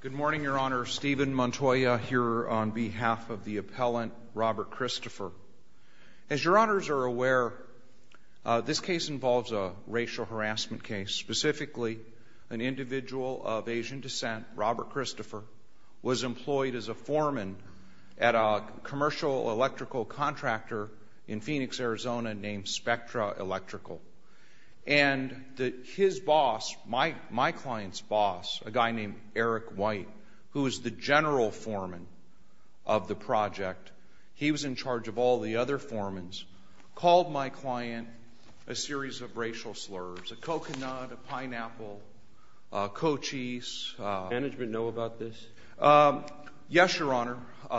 Good morning, Your Honor. Stephen Montoya here on behalf of the appellant Robert Christopher. As Your Honors are aware, this case involves a racial harassment case. Specifically, an individual of Asian descent, Robert Christopher, was employed as a foreman at a commercial electrical contractor in Phoenix, Arizona, named Spectra Electrical. And his boss, my client's boss, a guy named Eric White, who was the general foreman of the project, he was in charge of all the other foremans, called my client a series of racial slurs, a coconut, a pineapple, a Cochise. Does management know about this? Yes, Your Honor,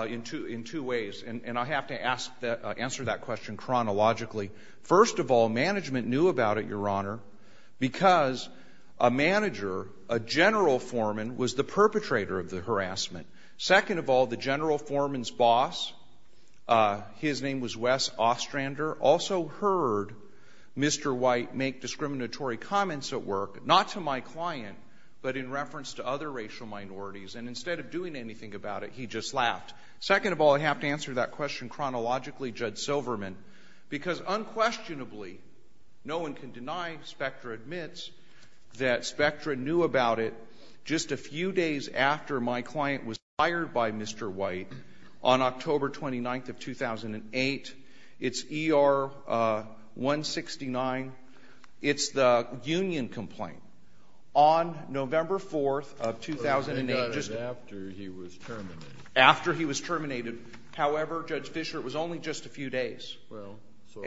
in two ways. And I have to answer that question chronologically. First of all, management knew about it, Your Honor, because a manager, a general foreman, was the perpetrator of the harassment. Second of all, the general foreman's boss, his name was Wes Ostrander, also heard Mr. White make discriminatory comments at work, not to my client, but in reference to other racial minorities. And instead of doing anything about it, he just laughed. Second of all, I have to answer that question chronologically, Judge Silverman, because unquestionably, no one can deny, Spectra admits, that Spectra knew about it just a few days after my client was fired by Mr. White on October 29th of 2008. It's ER-169. It's the union complaint. On November 4th of 2008, just to be clear, he was terminated. However, Judge Fischer, it was only just a few days. Well, so…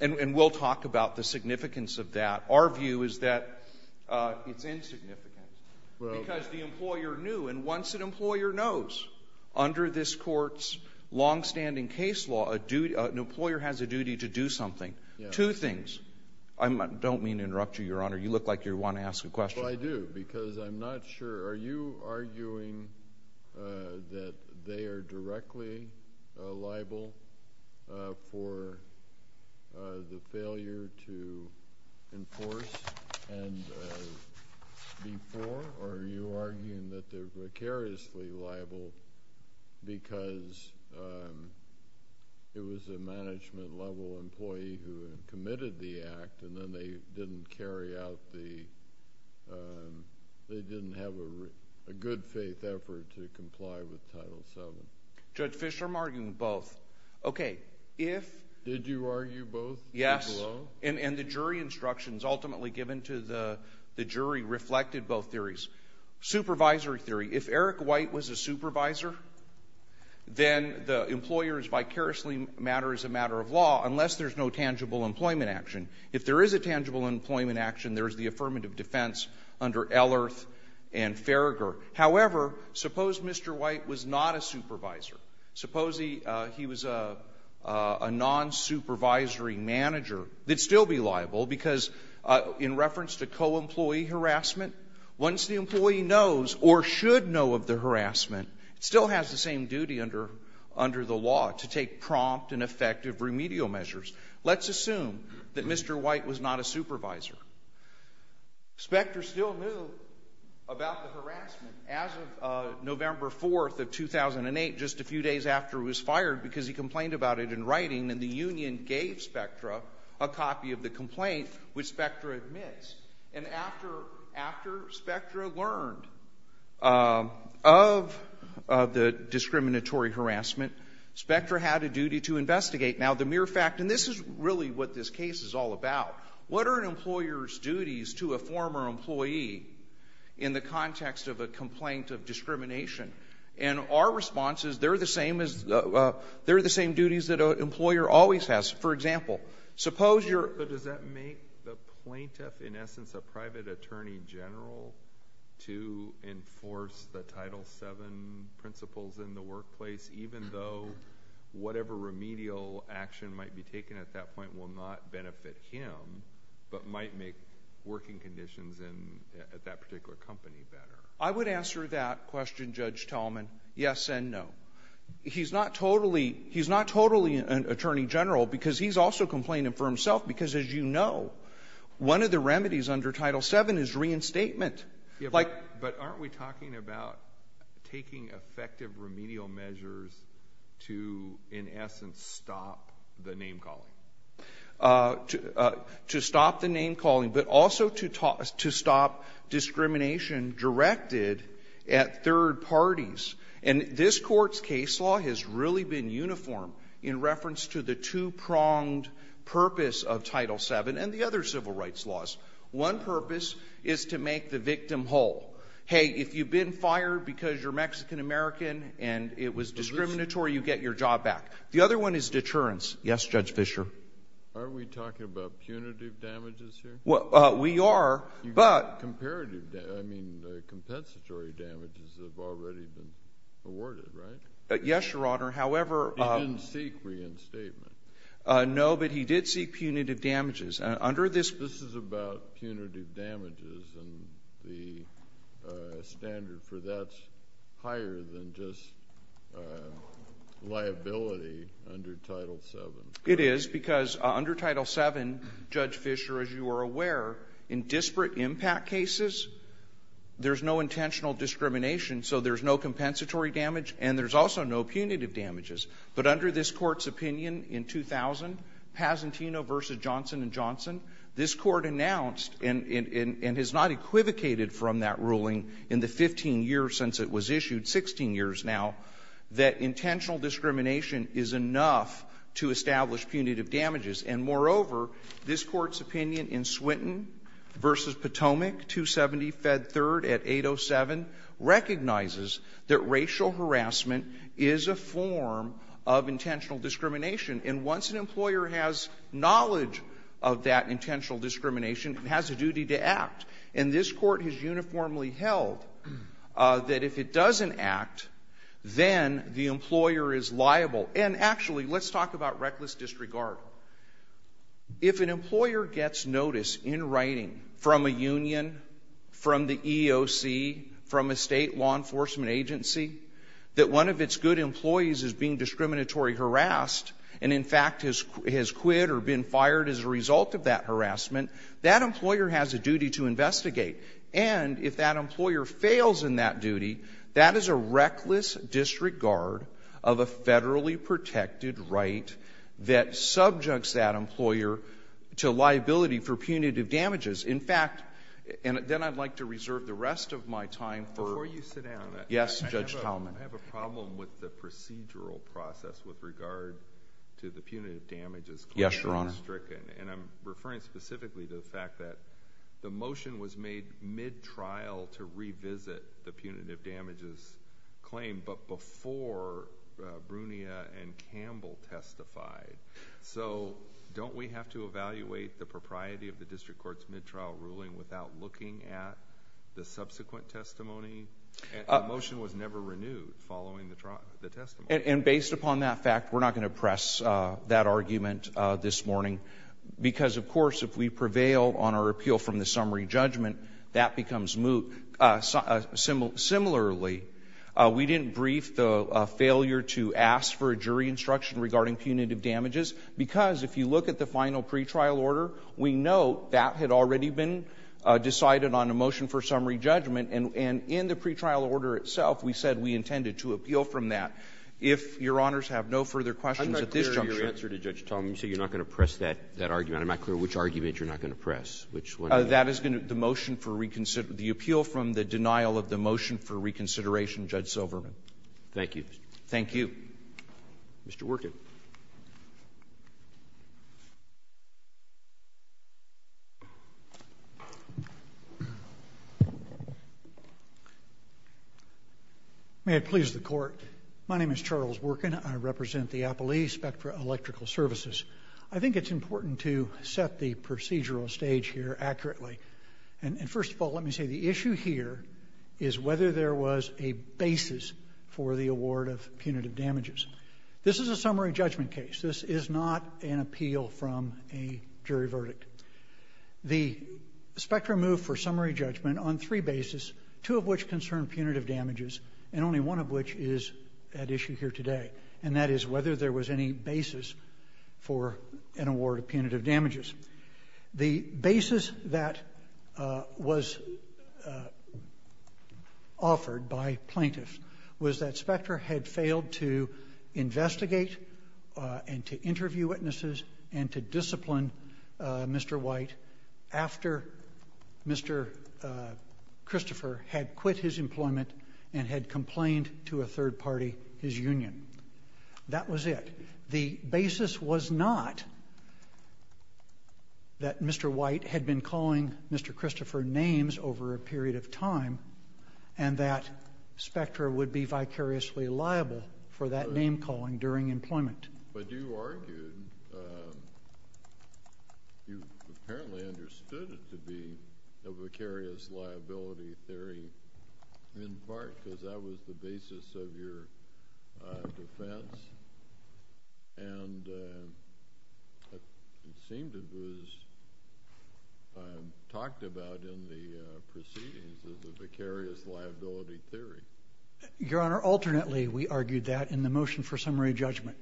And we'll talk about the significance of that. Our view is that it's insignificant, because the employer knew. And once an employer knows, under this Court's longstanding case law, an employer has a duty to do something. Yes. Two things. I don't mean to interrupt you, Your Honor. You look like you want to ask a question. Well, I do, because I'm not sure. Are you arguing that they are directly liable for the failure to enforce before? Or are you arguing that they're precariously liable because it was a management-level employee who committed the act, and then they didn't carry out the – they didn't have a good-faith effort to comply with Title VII? Judge Fischer, I'm arguing both. Okay. If… Did you argue both? Yes. Below? And the jury instructions ultimately given to the jury reflected both theories. Supervisory theory. If Eric White was a supervisor, then the employer's vicariously matter is a matter of law, unless there's no tangible employment action. If there is a tangible employment action, there's the affirmative defense under Ellerth and Farragher. However, suppose Mr. White was not a supervisor. Suppose he was a non-supervisory manager. It would still be liable, because in reference to co-employee harassment, once the employee knows or should know of the harassment, it still has the same duty under the law to take prompt and effective remedial measures. Let's assume that Mr. White was not a supervisor. Spectra still knew about the harassment as of November 4th of 2008, just a few days after he was fired, because he complained about it in writing, and the union gave Spectra a copy of the complaint, which Spectra admits. And after Spectra learned of the discriminatory harassment, Spectra had a duty to investigate. Now, the mere fact, and this is really what this case is all about, what are an employer's duties to a former employee in the context of a complaint of discrimination? And our response is, they're the same duties that an employer always has. For example, suppose plaintiff, in essence, a private attorney general, to enforce the Title VII principles in the workplace, even though whatever remedial action might be taken at that point will not benefit him, but might make working conditions at that particular company better? I would answer that question, Judge Tallman, yes and no. He's not totally an attorney general, because he's also complaining for himself, because as you know, one of the remedies under Title VII is reinstatement. But aren't we talking about taking effective remedial measures to, in essence, stop the name-calling? To stop the name-calling, but also to stop discrimination directed at third parties. And this Court's case law has really been uniform in reference to the two-pronged purpose of Title VII and the other civil rights laws. One purpose is to make the victim whole. Hey, if you've been fired because you're Mexican-American and it was discriminatory, you get your job back. The other one is deterrence. Yes, Judge Fischer? Aren't we talking about punitive damages here? We are, but — Comparative — I mean, compensatory damages have already been awarded, right? Yes, Your Honor. However — He didn't seek reinstatement. No, but he did seek punitive damages. Under this — This is about punitive damages, and the standard for that's higher than just liability under Title VII. It is, because under Title VII, Judge Fischer, as you are aware, in disparate impact cases, there's no intentional discrimination, so there's no compensatory damage, and there's also no punitive damages. But under this Court's opinion in 2000, Pazentino v. Johnson & Johnson, this Court announced and has not equivocated from that ruling in the 15 years since it was issued, 16 years now, that intentional discrimination is enough to establish punitive damages. And moreover, this Court's opinion in Swinton v. Potomac, 270 Fed 3rd at 807, recognizes that racial harassment is a form of intentional discrimination. And once an employer has knowledge of that intentional discrimination, it has a duty to act. And this Court has uniformly held that if it doesn't act, then the employer is liable. And actually, let's talk about reckless disregard. If an employer gets notice in writing from a union, from the EOC, from a State law enforcement agency, that one of its good employees is being discriminatory harassed and, in fact, has quit or been fired as a result of that harassment, that employer has a duty to investigate. And if that employer fails in that duty, that is a reckless disregard of a Federally protected right that subjects that employer to liability for punitive damages. In fact — and then I'd like to reserve the rest of my time for — Alito, before you sit down — Yes, Judge Talman. — I have a problem with the procedural process with regard to the punitive damages claim. Yes, Your Honor. And I'm referring specifically to the fact that the motion was made mid-trial to revisit the punitive damages claim, but before Brunia and Campbell testified. So don't we have to evaluate the propriety of the District Court's mid-trial ruling without looking at the subsequent testimony? The motion was never renewed following the testimony. And based upon that fact, we're not going to press that argument this morning, because, of course, if we prevail on our appeal from the summary judgment, that becomes moot. Similarly, we didn't brief the failure to ask for a jury instruction regarding punitive damages, because if you look at the final pretrial order, we know that had already been decided on a motion for summary judgment, and in the pretrial order itself, we said we intended to appeal from that. If Your Honors have no further questions at this juncture — I'm not clear of your answer to Judge Talman. You say you're not going to press that argument. I'm not clear which argument you're not going to press, which one. That is going to — the motion for reconsideration — the appeal from the denial of the motion for reconsideration, Judge Silverman. Thank you. Thank you. Mr. Workin. May it please the Court, my name is Charles Workin. I represent the Appellee Spectra Electrical Services. I think it's important to set the procedural stage here accurately. And first of all, let me say the issue here is whether there was a basis for the award of punitive damages. This is a summary judgment case. This is not an appeal from a jury verdict. The Spectra moved for summary judgment on three bases, two of which concern punitive damages, and only one of which is at issue here today, and that is whether there was any basis for an award of punitive damages. The basis that was offered by plaintiffs was that Spectra had failed to provide investigate and to interview witnesses and to discipline Mr. White after Mr. Christopher had quit his employment and had complained to a third party, his union. That was it. The basis was not that Mr. White had been calling Mr. Christopher names over a period of time, and that Spectra would be vicariously liable for that name calling during employment. But you argued, you apparently understood it to be a vicarious liability theory in part because that was the basis of your defense, and it seemed it was talked about in the proceedings as a vicarious liability theory. Your Honor, alternately, we argued that in the motion for summary judgment.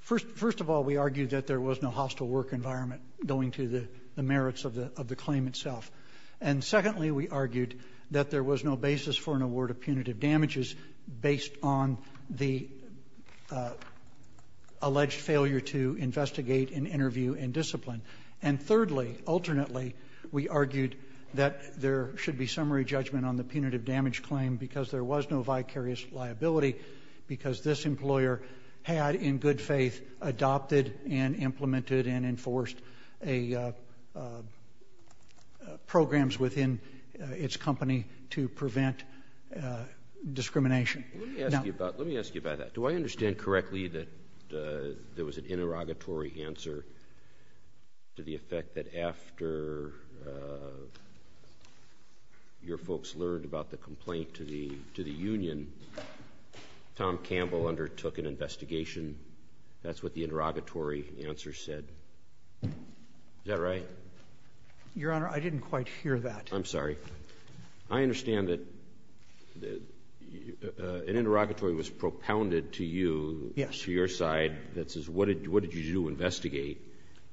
First of all, we argued that there was no hostile work environment going to the merits of the claim itself. And secondly, we argued that there was no basis for an award of punitive damages based on the alleged failure to investigate and interview and discipline. And thirdly, alternately, we argued that there should be summary judgment on the claim itself. There was no vicarious liability because this employer had, in good faith, adopted and implemented and enforced programs within its company to prevent discrimination. Now— Let me ask you about that. Do I understand correctly that there was an interrogatory answer to the effect that after your folks learned about the complaint to the union, Tom Campbell undertook an investigation? That's what the interrogatory answer said. Is that right? Your Honor, I didn't quite hear that. I'm sorry. I understand that an interrogatory was propounded to you— Yes. —to your side that says, what did you do to investigate?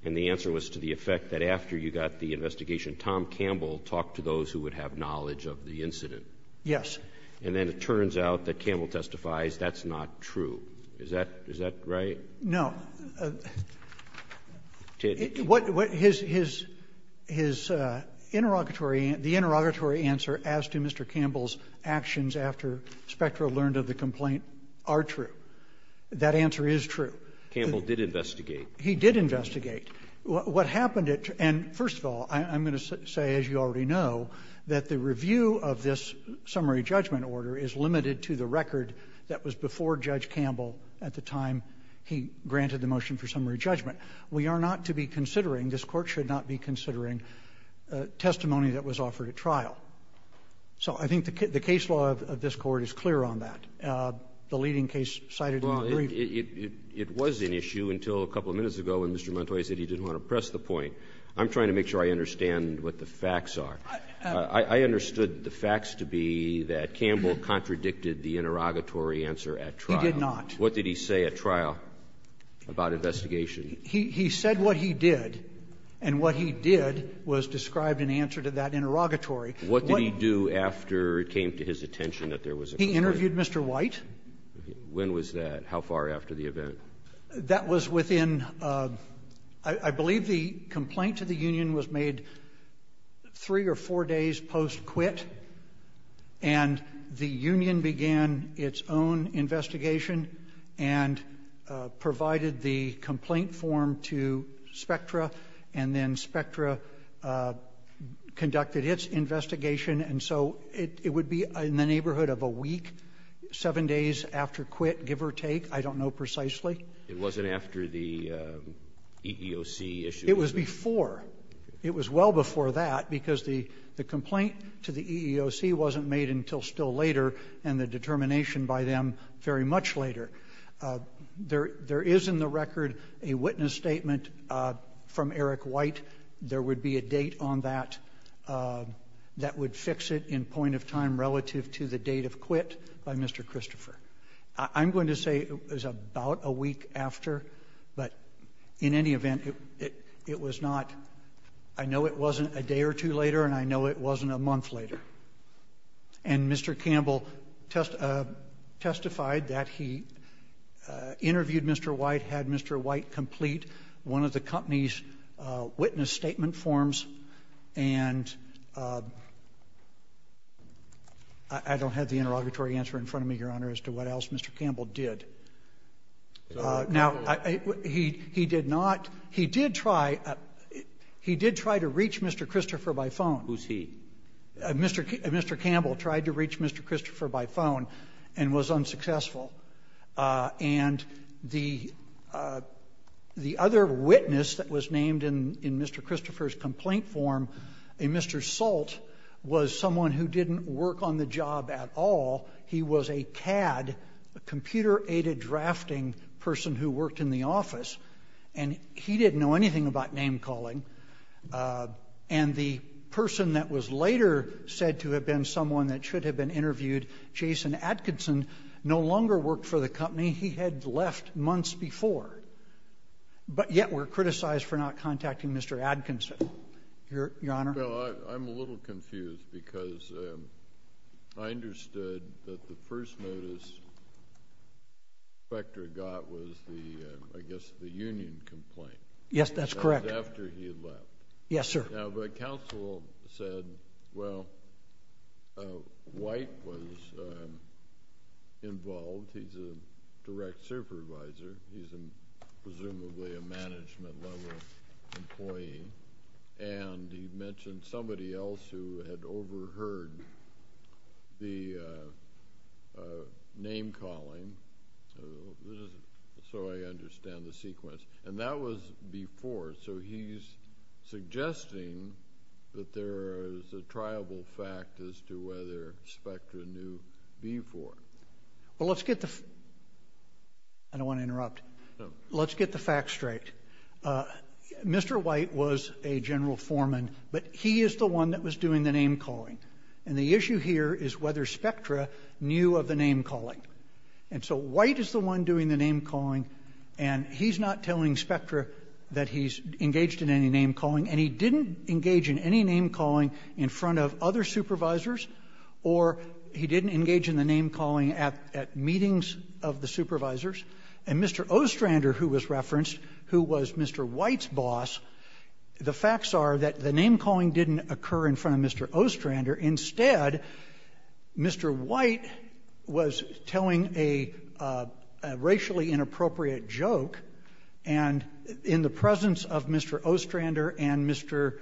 And the answer was to the effect that after you got the investigation, Tom Campbell talked to those who would have knowledge of the incident. Yes. And then it turns out that Campbell testifies that's not true. Is that right? No. What his interrogatory answer as to Mr. Campbell's actions after Spectra learned of the complaint are true. That answer is true. Campbell did investigate. He did investigate. What happened at — and first of all, I'm going to say, as you already know, that the review of this summary judgment order is limited to the record that was before Judge Campbell at the time he granted the motion for summary judgment. We are not to be considering, this Court should not be considering, testimony that was offered at trial. So I think the case law of this Court is clear on that. The leading case cited in the brief— I'm trying to make sure I understand what the facts are. I understood the facts to be that Campbell contradicted the interrogatory answer at trial. He did not. What did he say at trial about investigation? He said what he did, and what he did was describe an answer to that interrogatory. What did he do after it came to his attention that there was a complaint? When was that? How far after the event? That was within — I believe the complaint to the union was made three or four days post-quit, and the union began its own investigation and provided the complaint form to Spectra, and then Spectra conducted its investigation. And so it would be in the neighborhood of a week, seven days after quit, give or take. I don't know precisely. It wasn't after the EEOC issue? It was before. It was well before that, because the complaint to the EEOC wasn't made until still later, and the determination by them very much later. There is in the record a witness statement from Eric White. There would be a date on that that would fix it in point of time relative to the date of quit by Mr. Christopher. I'm going to say it was about a week after, but in any event, it was not — I know it wasn't a day or two later, and I know it wasn't a month later. And Mr. Campbell testified that he interviewed Mr. White, had Mr. White complete one of the company's witness statement forms, and I don't have the interrogatory answer in front of me, Your Honor, as to what else Mr. Campbell did. Now, he did not — he did try — he did try to reach Mr. Christopher by phone. Who's he? Mr. Campbell tried to reach Mr. Christopher by phone and was unsuccessful. And the other witness that was named in Mr. Christopher's complaint form, a Mr. Salt, was someone who didn't work on the job at all. He was a CAD, a computer-aided drafting person who worked in the office, and he didn't know anything about name-calling. And the person that was later said to have been someone that should have been interviewed, Jason Atkinson, no longer worked for the company. He had left months before. But yet we're criticized for not contacting Mr. Atkinson, Your Honor. Well, I'm a little confused, because I understood that the first notice the inspector got was the, I guess, the union complaint. Yes, that's correct. That was after he had left. Yes, sir. Now, the counsel said, well, White was involved. He's a direct supervisor. He's presumably a management-level employee. And he mentioned somebody else who had overheard the name-calling, so I understand the sequence. And that was before, so he's suggesting that there is a triable fact as to whether Spectre knew before. Well, let's get the... I don't want to interrupt. Let's get the facts straight. Mr. White was a general foreman, but he is the one that was doing the name-calling. And the issue here is whether Spectre knew of the name-calling. And so White is the one doing the name-calling, and he's not telling Spectre that he's engaged in any name-calling. And he didn't engage in any name-calling in front of other supervisors, or he didn't engage in the name-calling at meetings of the supervisors. And Mr. Ostrander, who was referenced, who was Mr. White's boss, the facts are that the name-calling didn't occur in front of Mr. Ostrander. Instead, Mr. White was telling a racially inappropriate joke, and in the presence of Mr. Ostrander and Mr.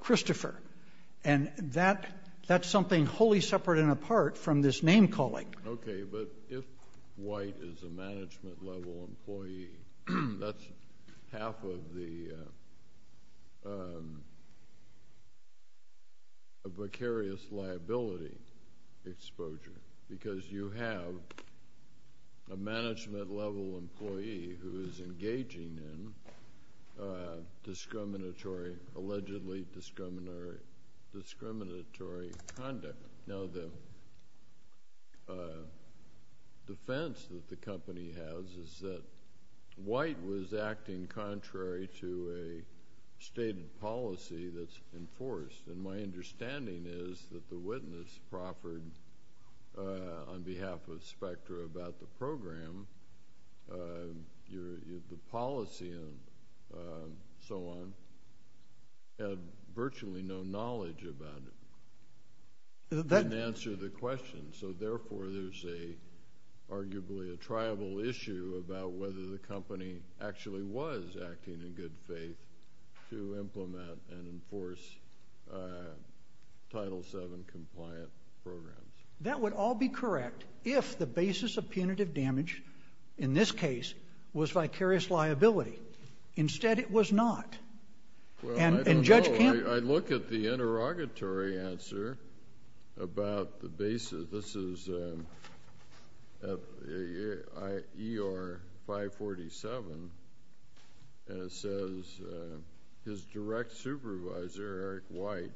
Christopher. And that's something wholly separate and apart from this name-calling. Okay, but if White is a management-level employee, that's half of the vicarious liability exposure. Because you have a management-level employee who is engaging in discriminatory, allegedly discriminatory conduct. Now, the defense that the company has is that White was acting contrary to a stated policy that's enforced. And my understanding is that the witness, Crawford, on behalf of Spectre about the program, the policy and so on, had virtually no knowledge about it. That didn't answer the question. So therefore, there's arguably a tribal issue about whether the company actually was acting in good faith to implement and enforce Title VII-compliant programs. That would all be correct if the basis of punitive damage, in this case, was vicarious liability. Instead, it was not. Well, I don't know. I look at the interrogatory answer about the basis. This is E.R. 547, and it says, his direct supervisor, Eric White,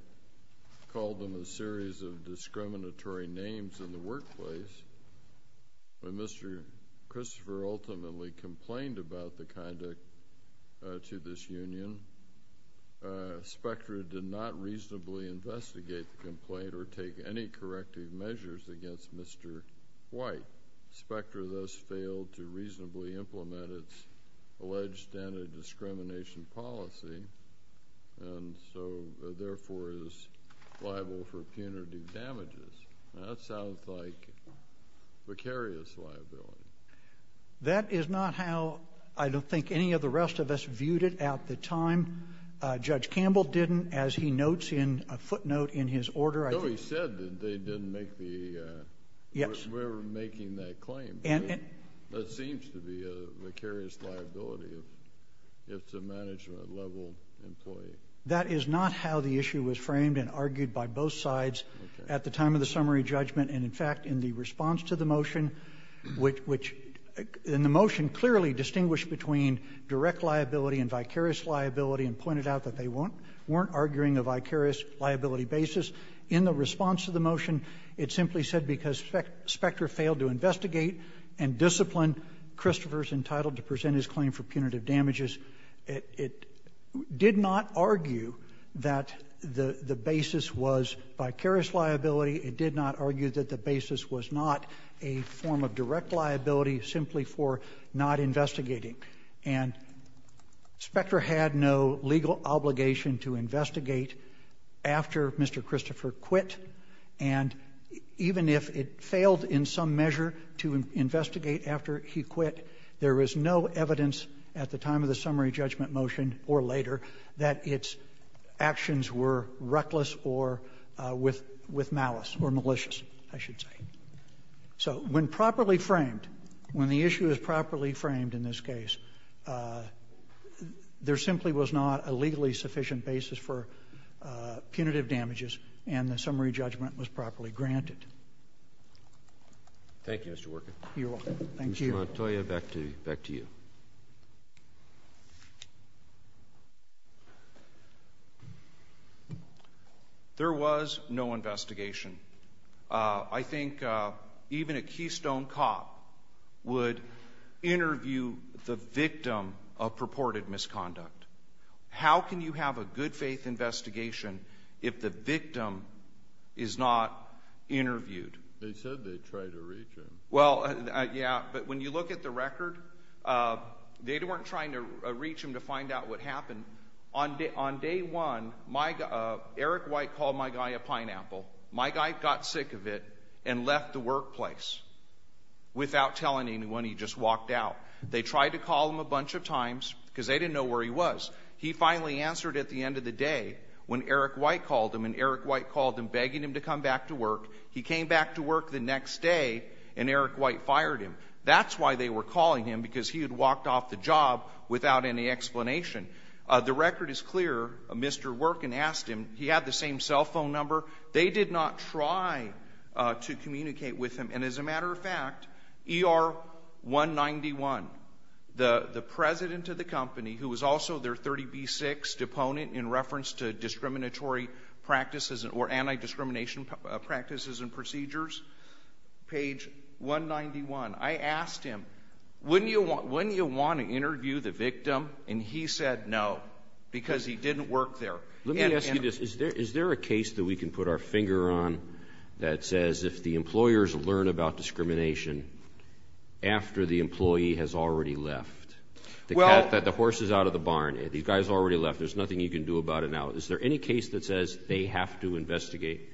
called them a series of discriminatory names in the workplace. When Mr. Christopher ultimately complained about the conduct to this union, Spectre did not reasonably investigate the complaint or take any corrective measures against Mr. White. Spectre thus failed to reasonably implement its alleged standard discrimination policy and so, therefore, is liable for punitive damages. That sounds like vicarious liability. That is not how I don't think any of the rest of us viewed it at the time. Judge Campbell didn't, as he notes in a footnote in his order. No, he said that they didn't make the – we're making that claim. That seems to be a vicarious liability if it's a management-level employee. That is not how the issue was framed and argued by both sides at the time of the summary judgment and, in fact, in the response to the motion, which in the motion clearly distinguished between direct liability and vicarious liability and pointed out that they weren't arguing a vicarious liability basis. In the response to the motion, it simply said because Spectre failed to investigate and discipline Christopher's claim for punitive damages, it did not argue that the basis was vicarious liability. It did not argue that the basis was not a form of direct liability simply for not investigating. And Spectre had no legal obligation to investigate after Mr. Christopher quit, and even if it failed in some measure to investigate after he quit, there was no evidence at the time of the summary judgment motion or later that its actions were reckless or with malice or malicious, I should say. So when properly framed, when the issue is properly framed in this case, there simply was not a legally sufficient basis for punitive damages, and the summary judgment was properly framed. Thank you. There was no investigation. I think even a Keystone cop would interview the victim of purported misconduct. How can you have a good-faith investigation if the victim is not interviewed? They said they tried to reach him. Well, yeah, but when you look at the record, they weren't trying to reach him to find out what happened. On day one, Eric White called my guy a pineapple. My guy got sick of it and left the workplace without telling anyone. He just walked out. They tried to call him a bunch of times because they didn't know where he was. He finally answered at the end of the day when Eric White called him, and Eric White called him begging him to come back to work. He came back to work the next day, and Eric White fired him. That's why they were calling him, because he had walked off the job without any explanation. The record is clear. Mr. Workin asked him. He had the same cell phone number. They did not try to communicate with him. And as a matter of fact, ER191, the president of the company, who was also their 30B6 deponent in reference to discriminatory practices or anti-discrimination practices and procedures, page 191, I asked him, wouldn't you want to interview the victim? And he said no, because he didn't work there. And Let me ask you this. Is there a case that we can put our finger on that says if the employers learn about discrimination after the employee has already left? Well That the horse is out of the barn. These guys already left. There's nothing you can do about it now. Is there any case that says they have to investigate?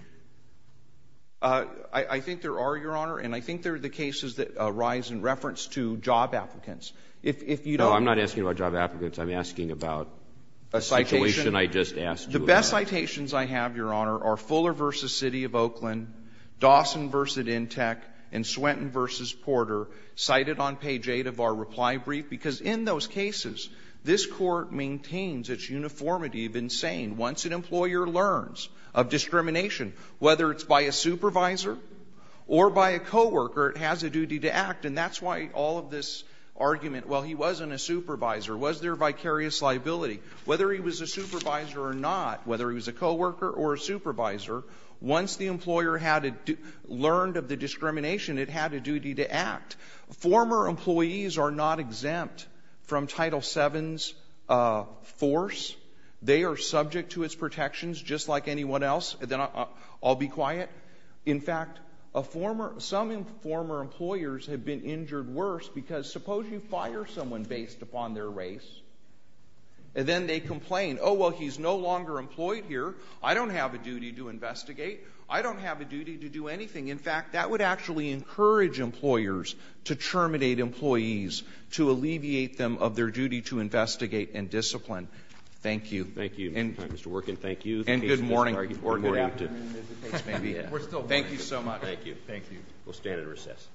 I think there are, Your Honor, and I think they're the cases that arise in reference to job applicants. If you don't No, I'm not asking about job applicants. I'm asking about a situation I just asked you about. The best citations I have, Your Honor, are Fuller v. City of Oakland, Dawson v. Intec, and Swenton v. Porter, cited on page 8 of our reply brief, because in those cases, this Court maintains its uniformity of saying once an employer learns of discrimination, whether it's by a supervisor or by a coworker, it has a duty to act. And that's why all of this argument, well, he wasn't a supervisor, was there vicarious liability, whether he was a supervisor or not, whether he was a coworker or a supervisor, once the employer had learned of the discrimination, it had a duty to act. Former employees are not exempt from Title VII's force. They are subject to its protections just like anyone else. Then I'll be quiet. In fact, some former employers have been injured worse because suppose you fire someone based upon their race, and then they complain, oh, well, he's no longer employed here. I don't have a duty to investigate. I don't have a duty to do anything. In fact, that would actually encourage employers to terminate employees to alleviate them of their duty to investigate and discipline. Thank you. Roberts. Thank you, Mr. Worken. Thank you. And good morning or good afternoon, as the case may be. Thank you so much. Thank you. We'll stand and recess.